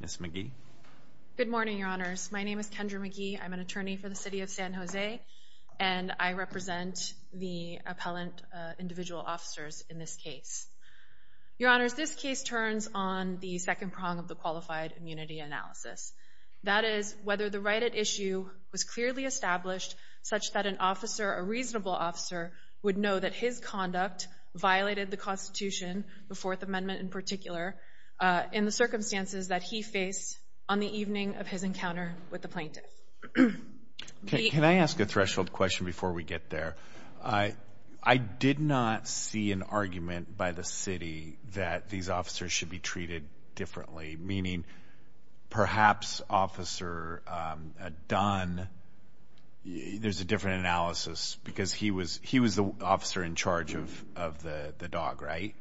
Ms. McGee. Good morning, Your Honors. My name is Kendra McGee. I'm an attorney for the City of San Jose, and I represent the appellant individual officers in this case. Your Honors, this case turns on the second prong of the Qualified Immunity Analysis. That is, whether the right at issue was clearly established such that an officer, a reasonable officer, would know that his conduct violated the Constitution, the Fourth Amendment in particular, in the circumstances that he faced on the evening of his encounter with the plaintiff. Can I ask a threshold question before we get there? I did not see an argument by the city that these officers should be treated differently, meaning perhaps Officer Dunn, there's a different analysis, because he was the officer in charge of the dog, right?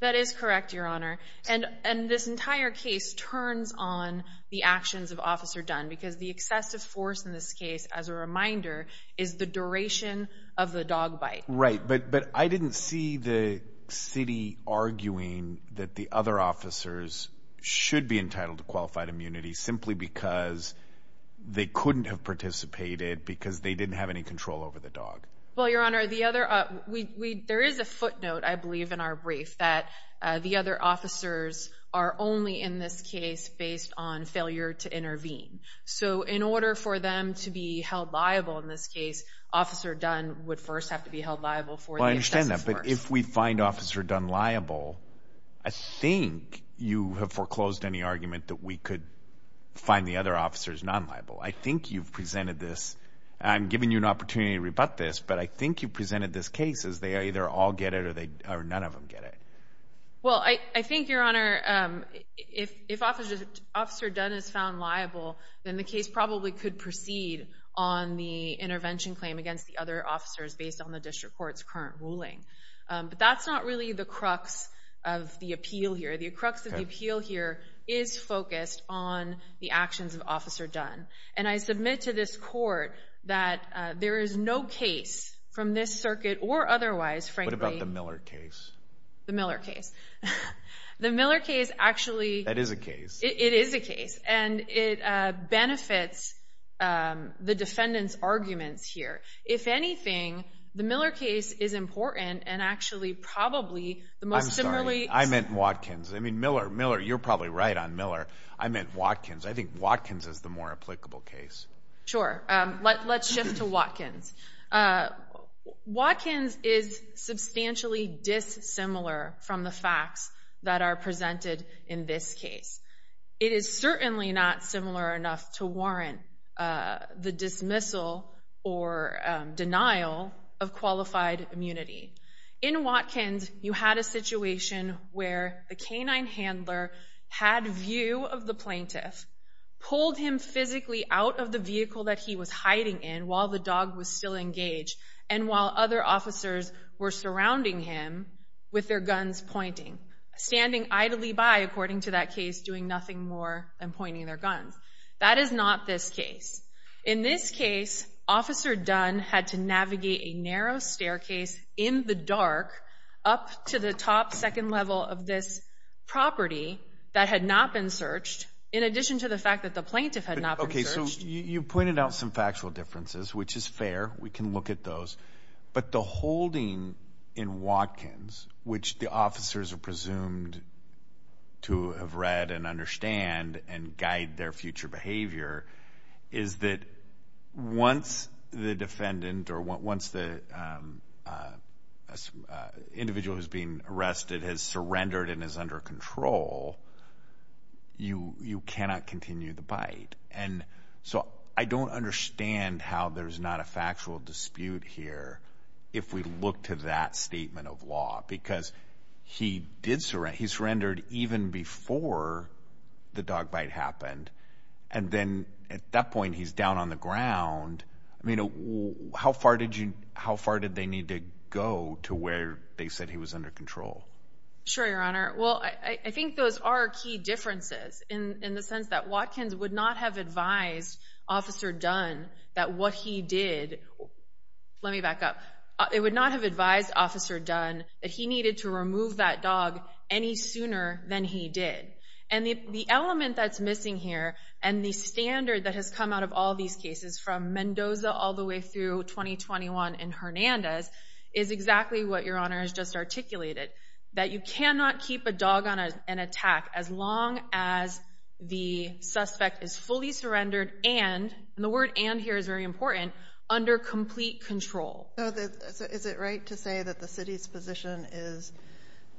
That is correct, Your Honor. And this entire case turns on the actions of Officer Dunn, because the excessive force in this case, as a reminder, is the duration of the dog bite. Right, but I didn't see the city arguing that the other officers should be entitled to qualified immunity simply because they couldn't have participated, because they didn't have any control over the dog. Well, Your Honor, there is a footnote, I believe, in our brief, that the other officers are only in this case based on failure to intervene. So in order for them to be held liable in this case, Officer Dunn would first have to be held liable for the excessive force. I understand that, but if we find Officer Dunn liable, I think you have foreclosed any argument that we could find the other officers non-liable. I think you've presented this. I'm giving you an opportunity to rebut this, but I think you presented this case as they either all get it or none of them get it. Well, I think, Your Honor, if Officer Dunn is found liable, then the case probably could proceed on the intervention claim against the other officers based on the district court's current ruling. But that's not really the crux of the appeal here. The crux of the appeal here is focused on the actions of Officer Dunn. And I submit to this court that there is no case from this circuit or otherwise, frankly— What about the Miller case? The Miller case. The Miller case actually— That is a case. It is a case, and it benefits the defendant's arguments here. If anything, the Miller case is important and actually probably the most similarly— I mean, Miller, you're probably right on Miller. I meant Watkins. I think Watkins is the more applicable case. Sure. Let's shift to Watkins. Watkins is substantially dissimilar from the facts that are presented in this case. It is certainly not similar enough to warrant the dismissal or denial of qualified immunity. In Watkins, you had a situation where the canine handler had view of the plaintiff, pulled him physically out of the vehicle that he was hiding in while the dog was still engaged, and while other officers were surrounding him with their guns pointing, standing idly by, according to that case, doing nothing more than pointing their guns. That is not this case. In this case, Officer Dunn had to navigate a narrow staircase in the dark up to the top second level of this property that had not been searched, in addition to the fact that the plaintiff had not been searched. Okay, so you pointed out some factual differences, which is fair. We can look at those. But the holding in Watkins, which the officers are presumed to have read and understand and guide their future behavior, is that once the defendant or once the individual who's being arrested has surrendered and is under control, you cannot continue the bite. And so I don't understand how there's not a factual dispute here if we look to that statement of law, because he surrendered even before the dog bite happened, and then at that point he's down on the ground. I mean, how far did they need to go to where they said he was under control? Sure, Your Honor. Well, I think those are key differences in the sense that Watkins would not have advised Officer Dunn that what he did, let me back up, it would not have advised Officer Dunn that he needed to remove that dog any sooner than he did. And the element that's missing here and the standard that has come out of all these cases, from Mendoza all the way through 2021 and Hernandez, is exactly what Your Honor has just articulated, that you cannot keep a dog on an attack as long as the suspect is fully surrendered and, and the word and here is very important, under complete control. So is it right to say that the city's position is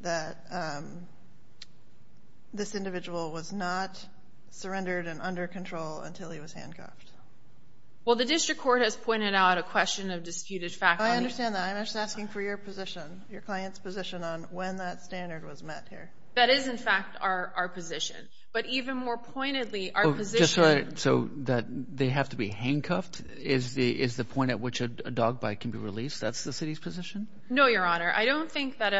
that this individual was not surrendered and under control until he was handcuffed? Well, the district court has pointed out a question of disputed faculty. I understand that. I'm just asking for your position, your client's position on when that standard was met here. That is, in fact, our position. But even more pointedly, our position So that they have to be handcuffed is the point at which a dog bite can be released? That's the city's position? No, Your Honor. I don't think that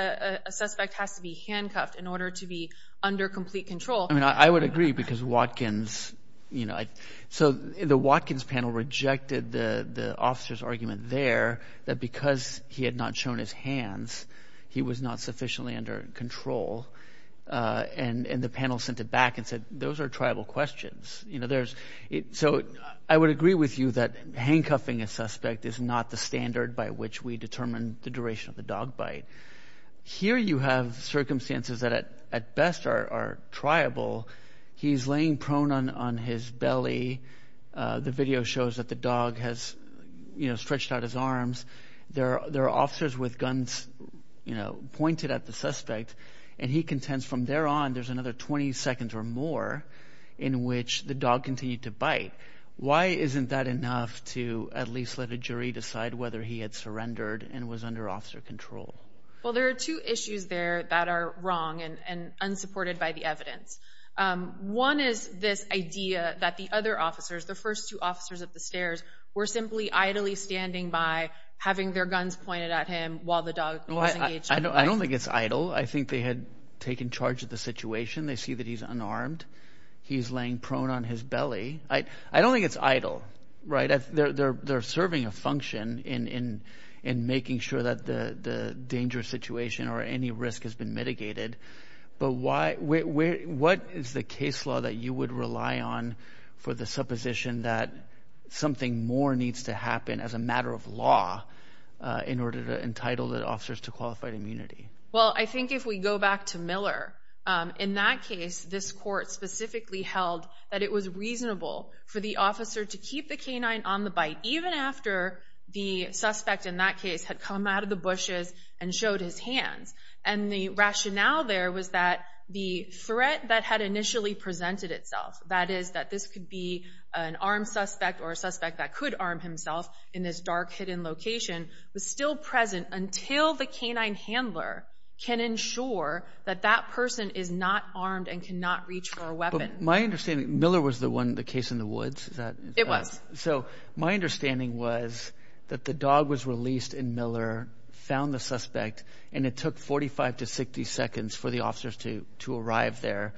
a suspect has to be handcuffed in order to be under complete control. I mean, I would agree because Watkins, you know, so the Watkins panel rejected the officer's argument there that because he had not shown his hands, he was not sufficiently under control. And the panel sent it back and said those are tribal questions. So I would agree with you that handcuffing a suspect is not the standard by which we determine the duration of the dog bite. Here you have circumstances that at best are tribal. He's laying prone on his belly. The video shows that the dog has, you know, stretched out his arms. There are officers with guns, you know, pointed at the suspect. And he contends from there on there's another 20 seconds or more in which the dog continued to bite. Why isn't that enough to at least let a jury decide whether he had surrendered and was under officer control? Well, there are two issues there that are wrong and unsupported by the evidence. One is this idea that the other officers, the first two officers up the stairs, were simply idly standing by having their guns pointed at him while the dog was engaged. I don't think it's idle. I think they had taken charge of the situation. They see that he's unarmed. He's laying prone on his belly. I don't think it's idle, right? They're serving a function in making sure that the dangerous situation or any risk has been mitigated. But what is the case law that you would rely on for the supposition that something more needs to happen as a matter of law in order to entitle the officers to qualified immunity? Well, I think if we go back to Miller, in that case this court specifically held that it was reasonable for the officer to keep the canine on the bite even after the suspect in that case had come out of the bushes and showed his hands. And the rationale there was that the threat that had initially presented itself, that is that this could be an armed suspect or a suspect that could arm himself in this dark, hidden location, was still present until the canine handler can ensure that that person is not armed and cannot reach for a weapon. But my understanding, Miller was the one, the case in the woods? It was. So my understanding was that the dog was released in Miller, found the suspect, and it took 45 to 60 seconds for the officers to arrive there.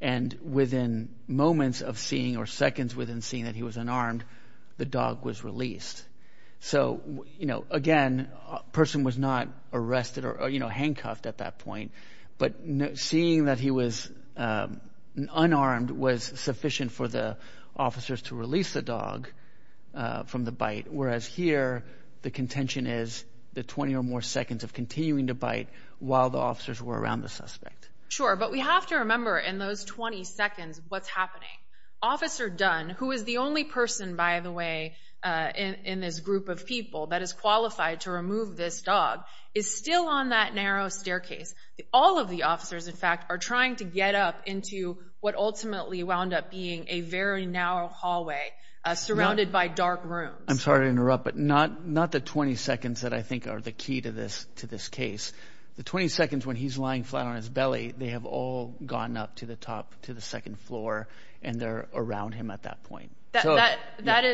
And within moments of seeing or seconds within seeing that he was unarmed, the dog was released. So, you know, again, person was not arrested or, you know, handcuffed at that point. But seeing that he was unarmed was sufficient for the officers to release the dog from the bite, whereas here the contention is the 20 or more seconds of continuing to bite while the officers were around the suspect. Sure, but we have to remember in those 20 seconds what's happening. Officer Dunn, who is the only person, by the way, in this group of people that is qualified to remove this dog, is still on that narrow staircase. All of the officers, in fact, are trying to get up into what ultimately wound up being a very narrow hallway surrounded by dark rooms. I'm sorry to interrupt, but not the 20 seconds that I think are the key to this case. The 20 seconds when he's lying flat on his belly, they have all gone up to the top, to the second floor, and they're around him at that point. That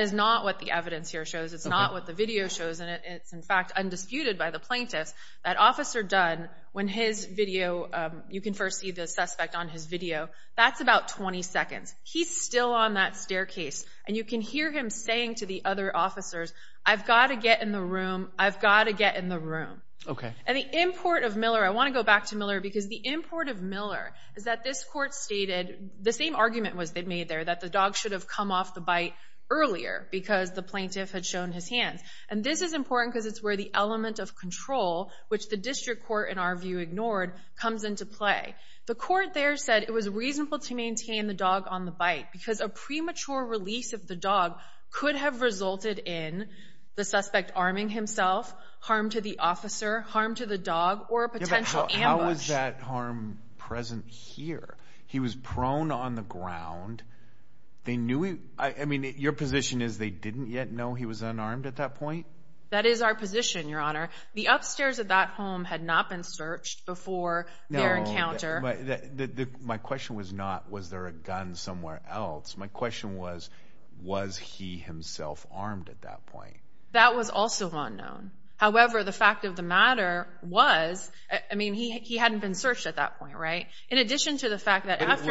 is not what the evidence here shows. It's not what the video shows, and it's, in fact, undisputed by the plaintiffs that Officer Dunn, when his video, you can first see the suspect on his video, that's about 20 seconds. He's still on that staircase, and you can hear him saying to the other officers, I've got to get in the room, I've got to get in the room. The import of Miller, I want to go back to Miller, because the import of Miller is that this court stated, the same argument was made there, that the dog should have come off the bite earlier because the plaintiff had shown his hands. This is important because it's where the element of control, which the district court, in our view, ignored, comes into play. The court there said it was reasonable to maintain the dog on the bite because a premature release of the dog could have resulted in the suspect arming himself, harm to the officer, harm to the dog, or a potential ambush. Yeah, but how is that harm present here? He was prone on the ground. They knew he, I mean, your position is they didn't yet know he was unarmed at that point? That is our position, Your Honor. The upstairs of that home had not been searched before their encounter. No, my question was not, was there a gun somewhere else? My question was, was he himself armed at that point? That was also unknown. However, the fact of the matter was, I mean, he hadn't been searched at that point, right? In addition to the fact that after—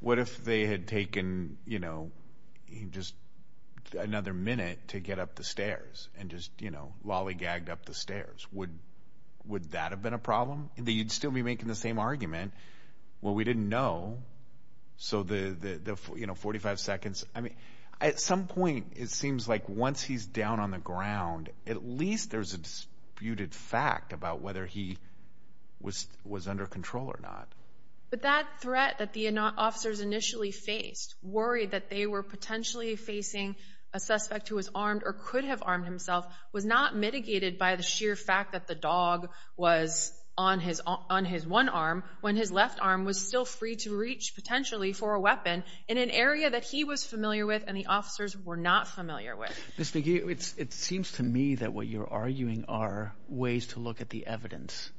What if they had taken, you know, just another minute to get up the stairs and just, you know, lollygagged up the stairs? Would that have been a problem? They'd still be making the same argument. Well, we didn't know, so the, you know, 45 seconds— I mean, at some point it seems like once he's down on the ground, at least there's a disputed fact about whether he was under control or not. But that threat that the officers initially faced, worried that they were potentially facing a suspect who was armed or could have armed himself, was not mitigated by the sheer fact that the dog was on his one arm when his left arm was still free to reach potentially for a weapon in an area that he was familiar with and the officers were not familiar with. Ms. McGee, it seems to me that what you're arguing are ways to look at the evidence,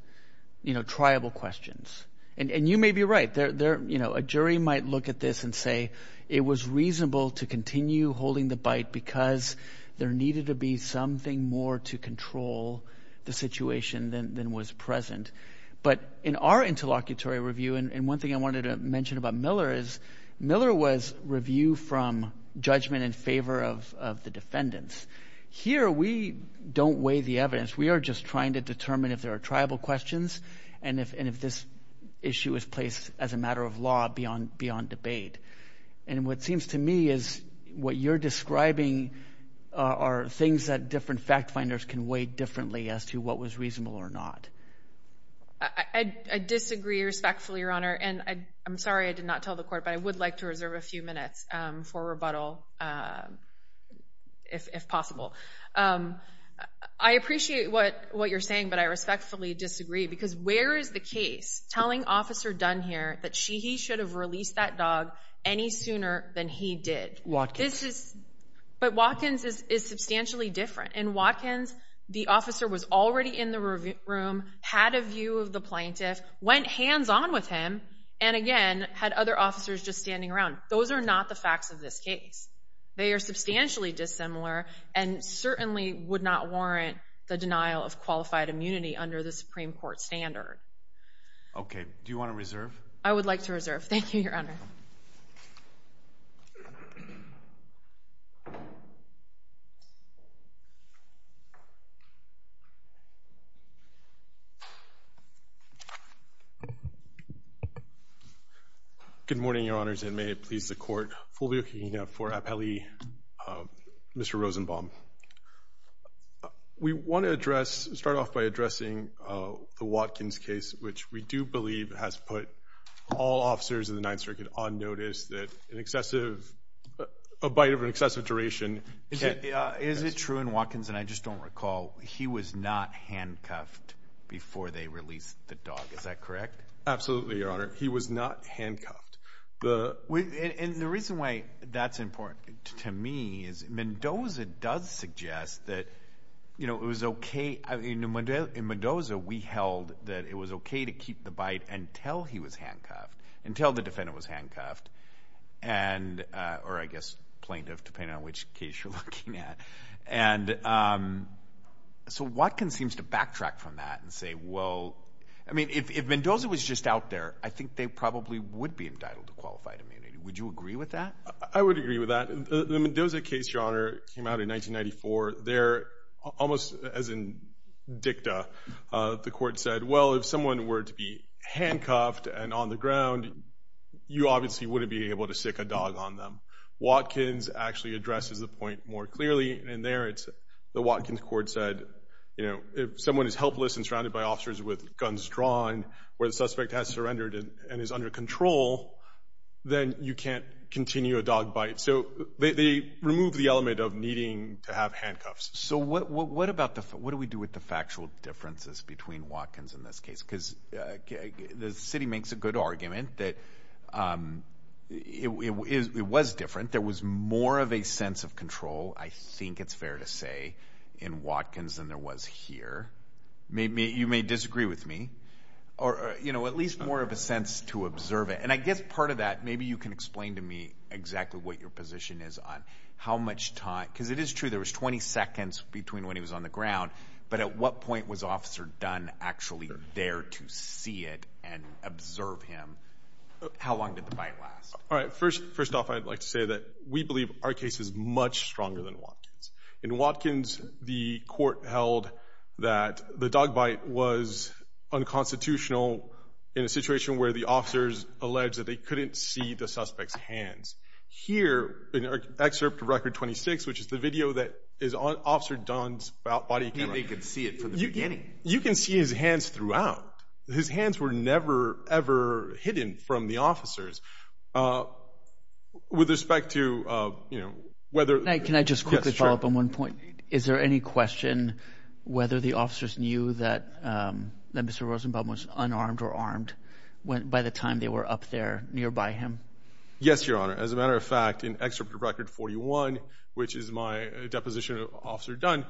you know, triable questions. And you may be right. You know, a jury might look at this and say it was reasonable to continue holding the bite because there needed to be something more to control the situation than was present. But in our interlocutory review—and one thing I wanted to mention about Miller is Miller was review from judgment in favor of the defendants. Here we don't weigh the evidence. We are just trying to determine if there are triable questions and if this issue is placed as a matter of law beyond debate. And what seems to me is what you're describing are things that different fact-finders can weigh differently as to what was reasonable or not. I disagree respectfully, Your Honor, and I'm sorry I did not tell the court, but I would like to reserve a few minutes for rebuttal if possible. I appreciate what you're saying, but I respectfully disagree because where is the case telling Officer Dunn here that he should have released that dog any sooner than he did? Watkins. But Watkins is substantially different. In Watkins, the officer was already in the room, had a view of the plaintiff, went hands-on with him, and again had other officers just standing around. Those are not the facts of this case. They are substantially dissimilar and certainly would not warrant the denial of qualified immunity under the Supreme Court standard. Okay. Do you want to reserve? I would like to reserve. Thank you, Your Honor. Good morning, Your Honors, and may it please the Court. Fulvio Quigna for Appellee Mr. Rosenbaum. We want to address, start off by addressing the Watkins case, which we do believe has put all officers in the Ninth Circuit on notice that an excessive, a bite of an excessive duration. Is it true in Watkins, and I just don't recall, he was not handcuffed before they released the dog. Is that correct? Absolutely, Your Honor. He was not handcuffed. And the reason why that's important to me is Mendoza does suggest that, you know, it was okay, in Mendoza we held that it was okay to keep the bite until he was handcuffed, until the defendant was handcuffed, or I guess plaintiff, depending on which case you're looking at. And so Watkins seems to backtrack from that and say, well, I mean, if Mendoza was just out there, I think they probably would be entitled to qualified immunity. Would you agree with that? I would agree with that. The Mendoza case, Your Honor, came out in 1994. There, almost as in dicta, the Court said, well, if someone were to be handcuffed and on the ground, you obviously wouldn't be able to stick a dog on them. Watkins actually addresses the point more clearly, and there the Watkins Court said, you know, if someone is helpless and surrounded by officers with guns drawn, where the suspect has surrendered and is under control, then you can't continue a dog bite. So they remove the element of needing to have handcuffs. So what do we do with the factual differences between Watkins and this case? Because the city makes a good argument that it was different. There was more of a sense of control, I think it's fair to say, in Watkins than there was here. You may disagree with me. Or, you know, at least more of a sense to observe it. And I guess part of that, maybe you can explain to me exactly what your position is on how much time, because it is true there was 20 seconds between when he was on the ground, but at what point was Officer Dunn actually there to see it and observe him? How long did the bite last? All right. First off, I'd like to say that we believe our case is much stronger than Watkins. In Watkins, the court held that the dog bite was unconstitutional in a situation where the officers alleged that they couldn't see the suspect's hands. Here, in Excerpt Record 26, which is the video that is on Officer Dunn's body camera. They can see it from the beginning. You can see his hands throughout. His hands were never, ever hidden from the officers. With respect to, you know, whether – Can I just quickly follow up on one point? Is there any question whether the officers knew that Mr. Rosenbaum was unarmed or armed by the time they were up there nearby him? Yes, Your Honor. As a matter of fact, in Excerpt Record 41, which is my deposition of Officer Dunn,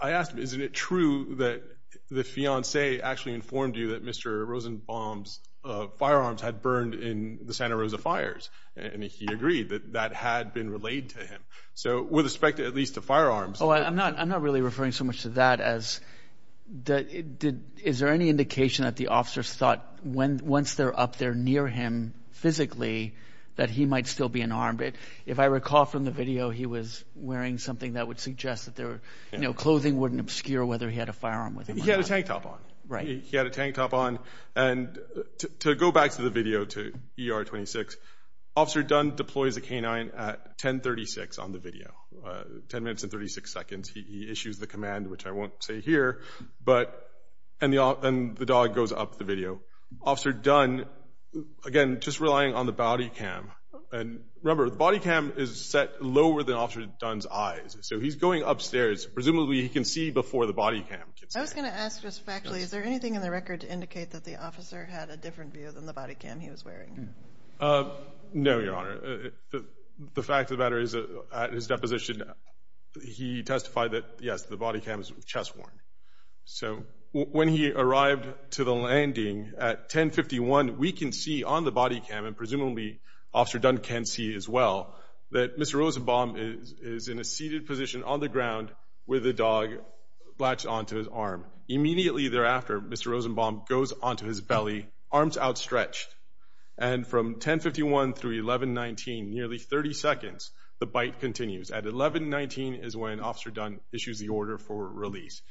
I asked him, isn't it true that the fiancé actually informed you that Mr. Rosenbaum's firearms had burned in the Santa Rosa fires? And he agreed that that had been relayed to him. So with respect at least to firearms. Oh, I'm not really referring so much to that as – is there any indication that the officers thought once they're up there near him physically that he might still be unarmed? If I recall from the video, he was wearing something that would suggest that their, you know, clothing wouldn't obscure whether he had a firearm with him or not. He had a tank top on. Right. He had a tank top on. And to go back to the video, to ER 26, Officer Dunn deploys a canine at 1036 on the video, 10 minutes and 36 seconds. He issues the command, which I won't say here, but – and the dog goes up the video. Officer Dunn, again, just relying on the body cam. And remember, the body cam is set lower than Officer Dunn's eyes. So he's going upstairs. Presumably he can see before the body cam can see. I was going to ask just factually, is there anything in the record to indicate that the officer had a different view than the body cam he was wearing? No, Your Honor. The fact of the matter is at his deposition he testified that, yes, the body cam is chest worn. So when he arrived to the landing at 1051, we can see on the body cam, and presumably Officer Dunn can see as well, that Mr. Rosenbaum is in a seated position on the ground with the dog latched onto his arm. Immediately thereafter, Mr. Rosenbaum goes onto his belly, arms outstretched. And from 1051 through 1119, nearly 30 seconds, the bite continues. At 1119 is when Officer Dunn issues the order for release.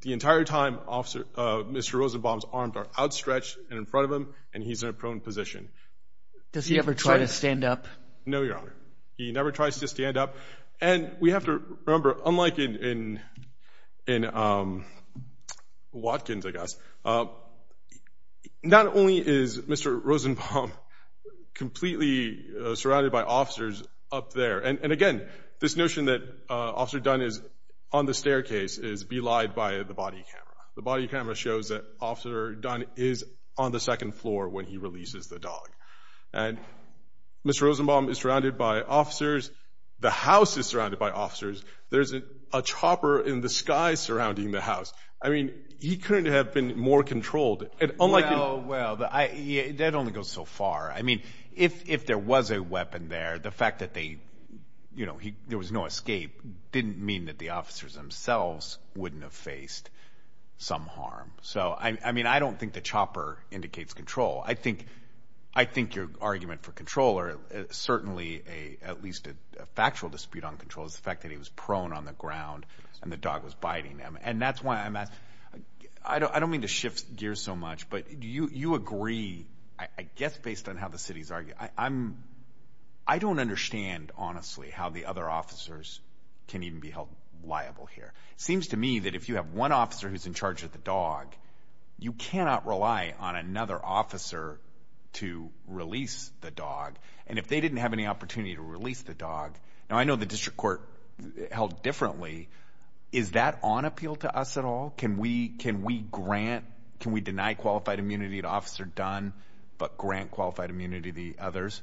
The entire time, Mr. Rosenbaum's arms are outstretched and in front of him, and he's in a prone position. Does he ever try to stand up? No, Your Honor. He never tries to stand up. And we have to remember, unlike in Watkins, I guess, not only is Mr. Rosenbaum completely surrounded by officers up there, and, again, this notion that Officer Dunn is on the staircase is belied by the body camera. The body camera shows that Officer Dunn is on the second floor when he releases the dog. And Mr. Rosenbaum is surrounded by officers. The house is surrounded by officers. There's a chopper in the sky surrounding the house. I mean, he couldn't have been more controlled. Well, that only goes so far. I mean, if there was a weapon there, the fact that there was no escape didn't mean that the officers themselves wouldn't have faced some harm. So, I mean, I don't think the chopper indicates control. I think your argument for control, or certainly at least a factual dispute on control, is the fact that he was prone on the ground and the dog was biting him. And that's why I'm asking. I don't mean to shift gears so much, but you agree, I guess based on how the city's arguing. I don't understand, honestly, how the other officers can even be held liable here. It seems to me that if you have one officer who's in charge of the dog, you cannot rely on another officer to release the dog. And if they didn't have any opportunity to release the dog, now I know the district court held differently. Is that on appeal to us at all? Can we grant, can we deny qualified immunity to Officer Dunn, but grant qualified immunity to the others?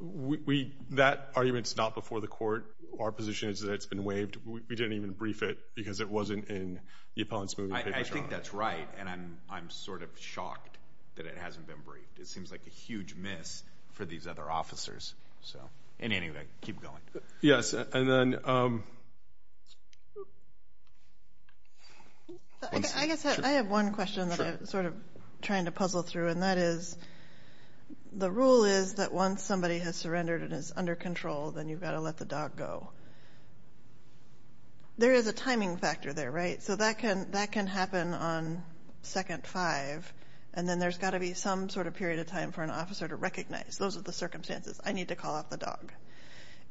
That argument's not before the court. Our position is that it's been waived. We didn't even brief it because it wasn't in the appellant's moving papers. I think that's right, and I'm sort of shocked that it hasn't been briefed. It seems like a huge miss for these other officers. Anyway, keep going. Yes, and then. I guess I have one question that I'm sort of trying to puzzle through, and that is the rule is that once somebody has surrendered and is under control, then you've got to let the dog go. There is a timing factor there, right? So that can happen on second five, and then there's got to be some sort of period of time for an officer to recognize. Those are the circumstances. I need to call off the dog.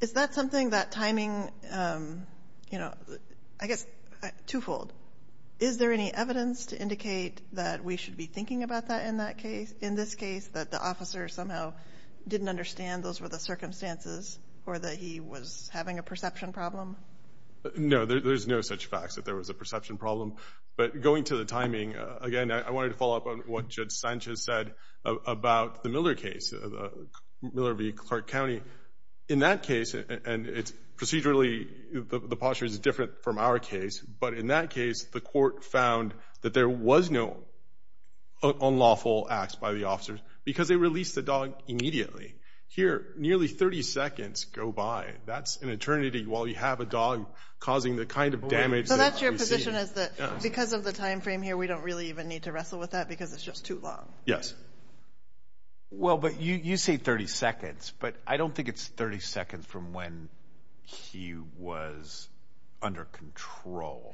Is that something that timing, you know, I guess twofold. Is there any evidence to indicate that we should be thinking about that in this case, that the officer somehow didn't understand those were the circumstances or that he was having a perception problem? No, there's no such facts that there was a perception problem. But going to the timing, again, I wanted to follow up on what Judge Sanchez said about the Miller case, Miller v. Clark County. In that case, and procedurally the posture is different from our case, but in that case the court found that there was no unlawful acts by the officers because they released the dog immediately. Here, nearly 30 seconds go by. That's an eternity while you have a dog causing the kind of damage that you see. So that's your position is that because of the time frame here, we don't really even need to wrestle with that because it's just too long? Yes. Well, but you say 30 seconds, but I don't think it's 30 seconds from when he was under control.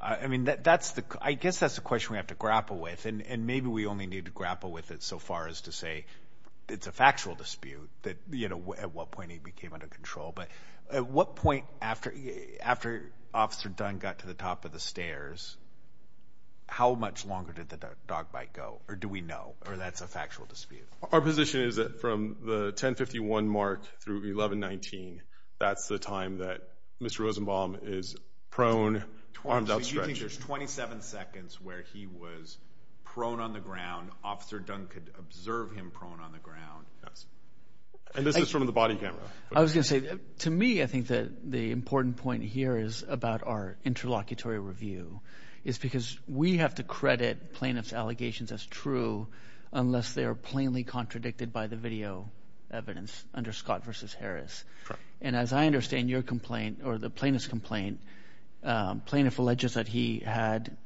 I mean, I guess that's the question we have to grapple with, and maybe we only need to grapple with it so far as to say it's a factual dispute that, you know, at what point he became under control. But at what point after Officer Dunn got to the top of the stairs, how much longer did the dog bite go, or do we know, or that's a factual dispute? Our position is that from the 10-51 mark through 11-19, that's the time that Mr. Rosenbaum is prone, arms outstretched. So you think there's 27 seconds where he was prone on the ground, Officer Dunn could observe him prone on the ground? Yes. And this is from the body camera. I was going to say, to me, I think that the important point here is about our interlocutory review, is because we have to credit plaintiff's allegations as true unless they are plainly contradicted by the video evidence under Scott v. Harris. And as I understand your complaint, or the plaintiff's complaint, plaintiff alleges that he had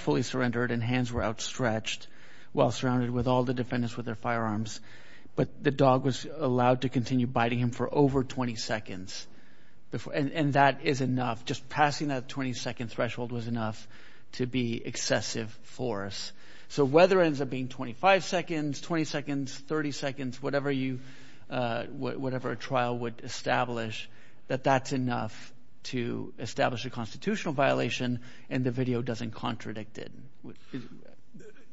fully surrendered and hands were outstretched while surrounded with all the defendants with their firearms, but the dog was allowed to continue biting him for over 20 seconds. And that is enough. Just passing that 20-second threshold was enough to be excessive force. So whether it ends up being 25 seconds, 20 seconds, 30 seconds, whatever a trial would establish, that that's enough to establish a constitutional violation and the video doesn't contradict it.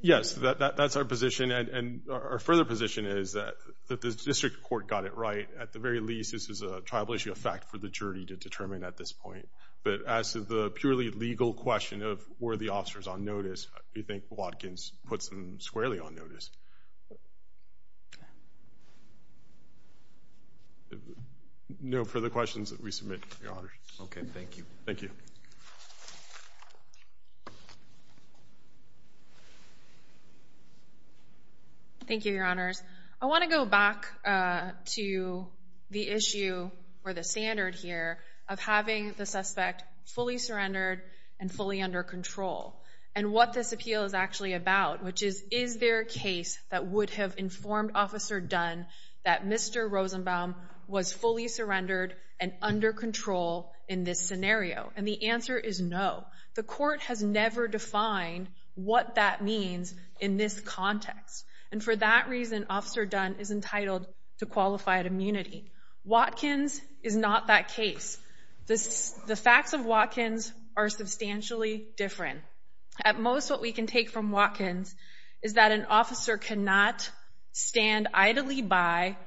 Yes, that's our position. And our further position is that the district court got it right. At the very least, this is a tribal issue, a fact for the jury to determine at this point. But as to the purely legal question of were the officers on notice, we think Watkins puts them squarely on notice. No further questions that we submit, Your Honors. Okay, thank you. Thank you. Thank you, Your Honors. I want to go back to the issue or the standard here of having the suspect fully surrendered and fully under control and what this appeal is actually about, which is is there a case that would have informed Officer Dunn that Mr. Rosenbaum was fully surrendered and under control in this scenario? And the answer is no. The court has never defined what that means in this context. And for that reason, Officer Dunn is entitled to qualified immunity. Watkins is not that case. The facts of Watkins are substantially different. At most, what we can take from Watkins is that an officer cannot stand idly by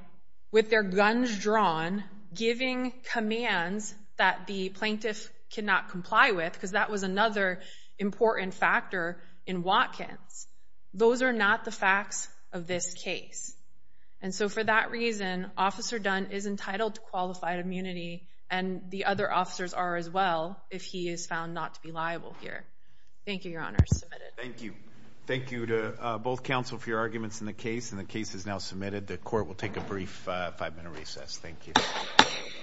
with their guns drawn giving commands that the plaintiff cannot comply with because that was another important factor in Watkins. Those are not the facts of this case. And so for that reason, Officer Dunn is entitled to qualified immunity and the other officers are as well if he is found not to be liable here. Thank you, Your Honors. Thank you. Thank you to both counsel for your arguments in the case, and the case is now submitted. The court will take a brief five-minute recess. Thank you.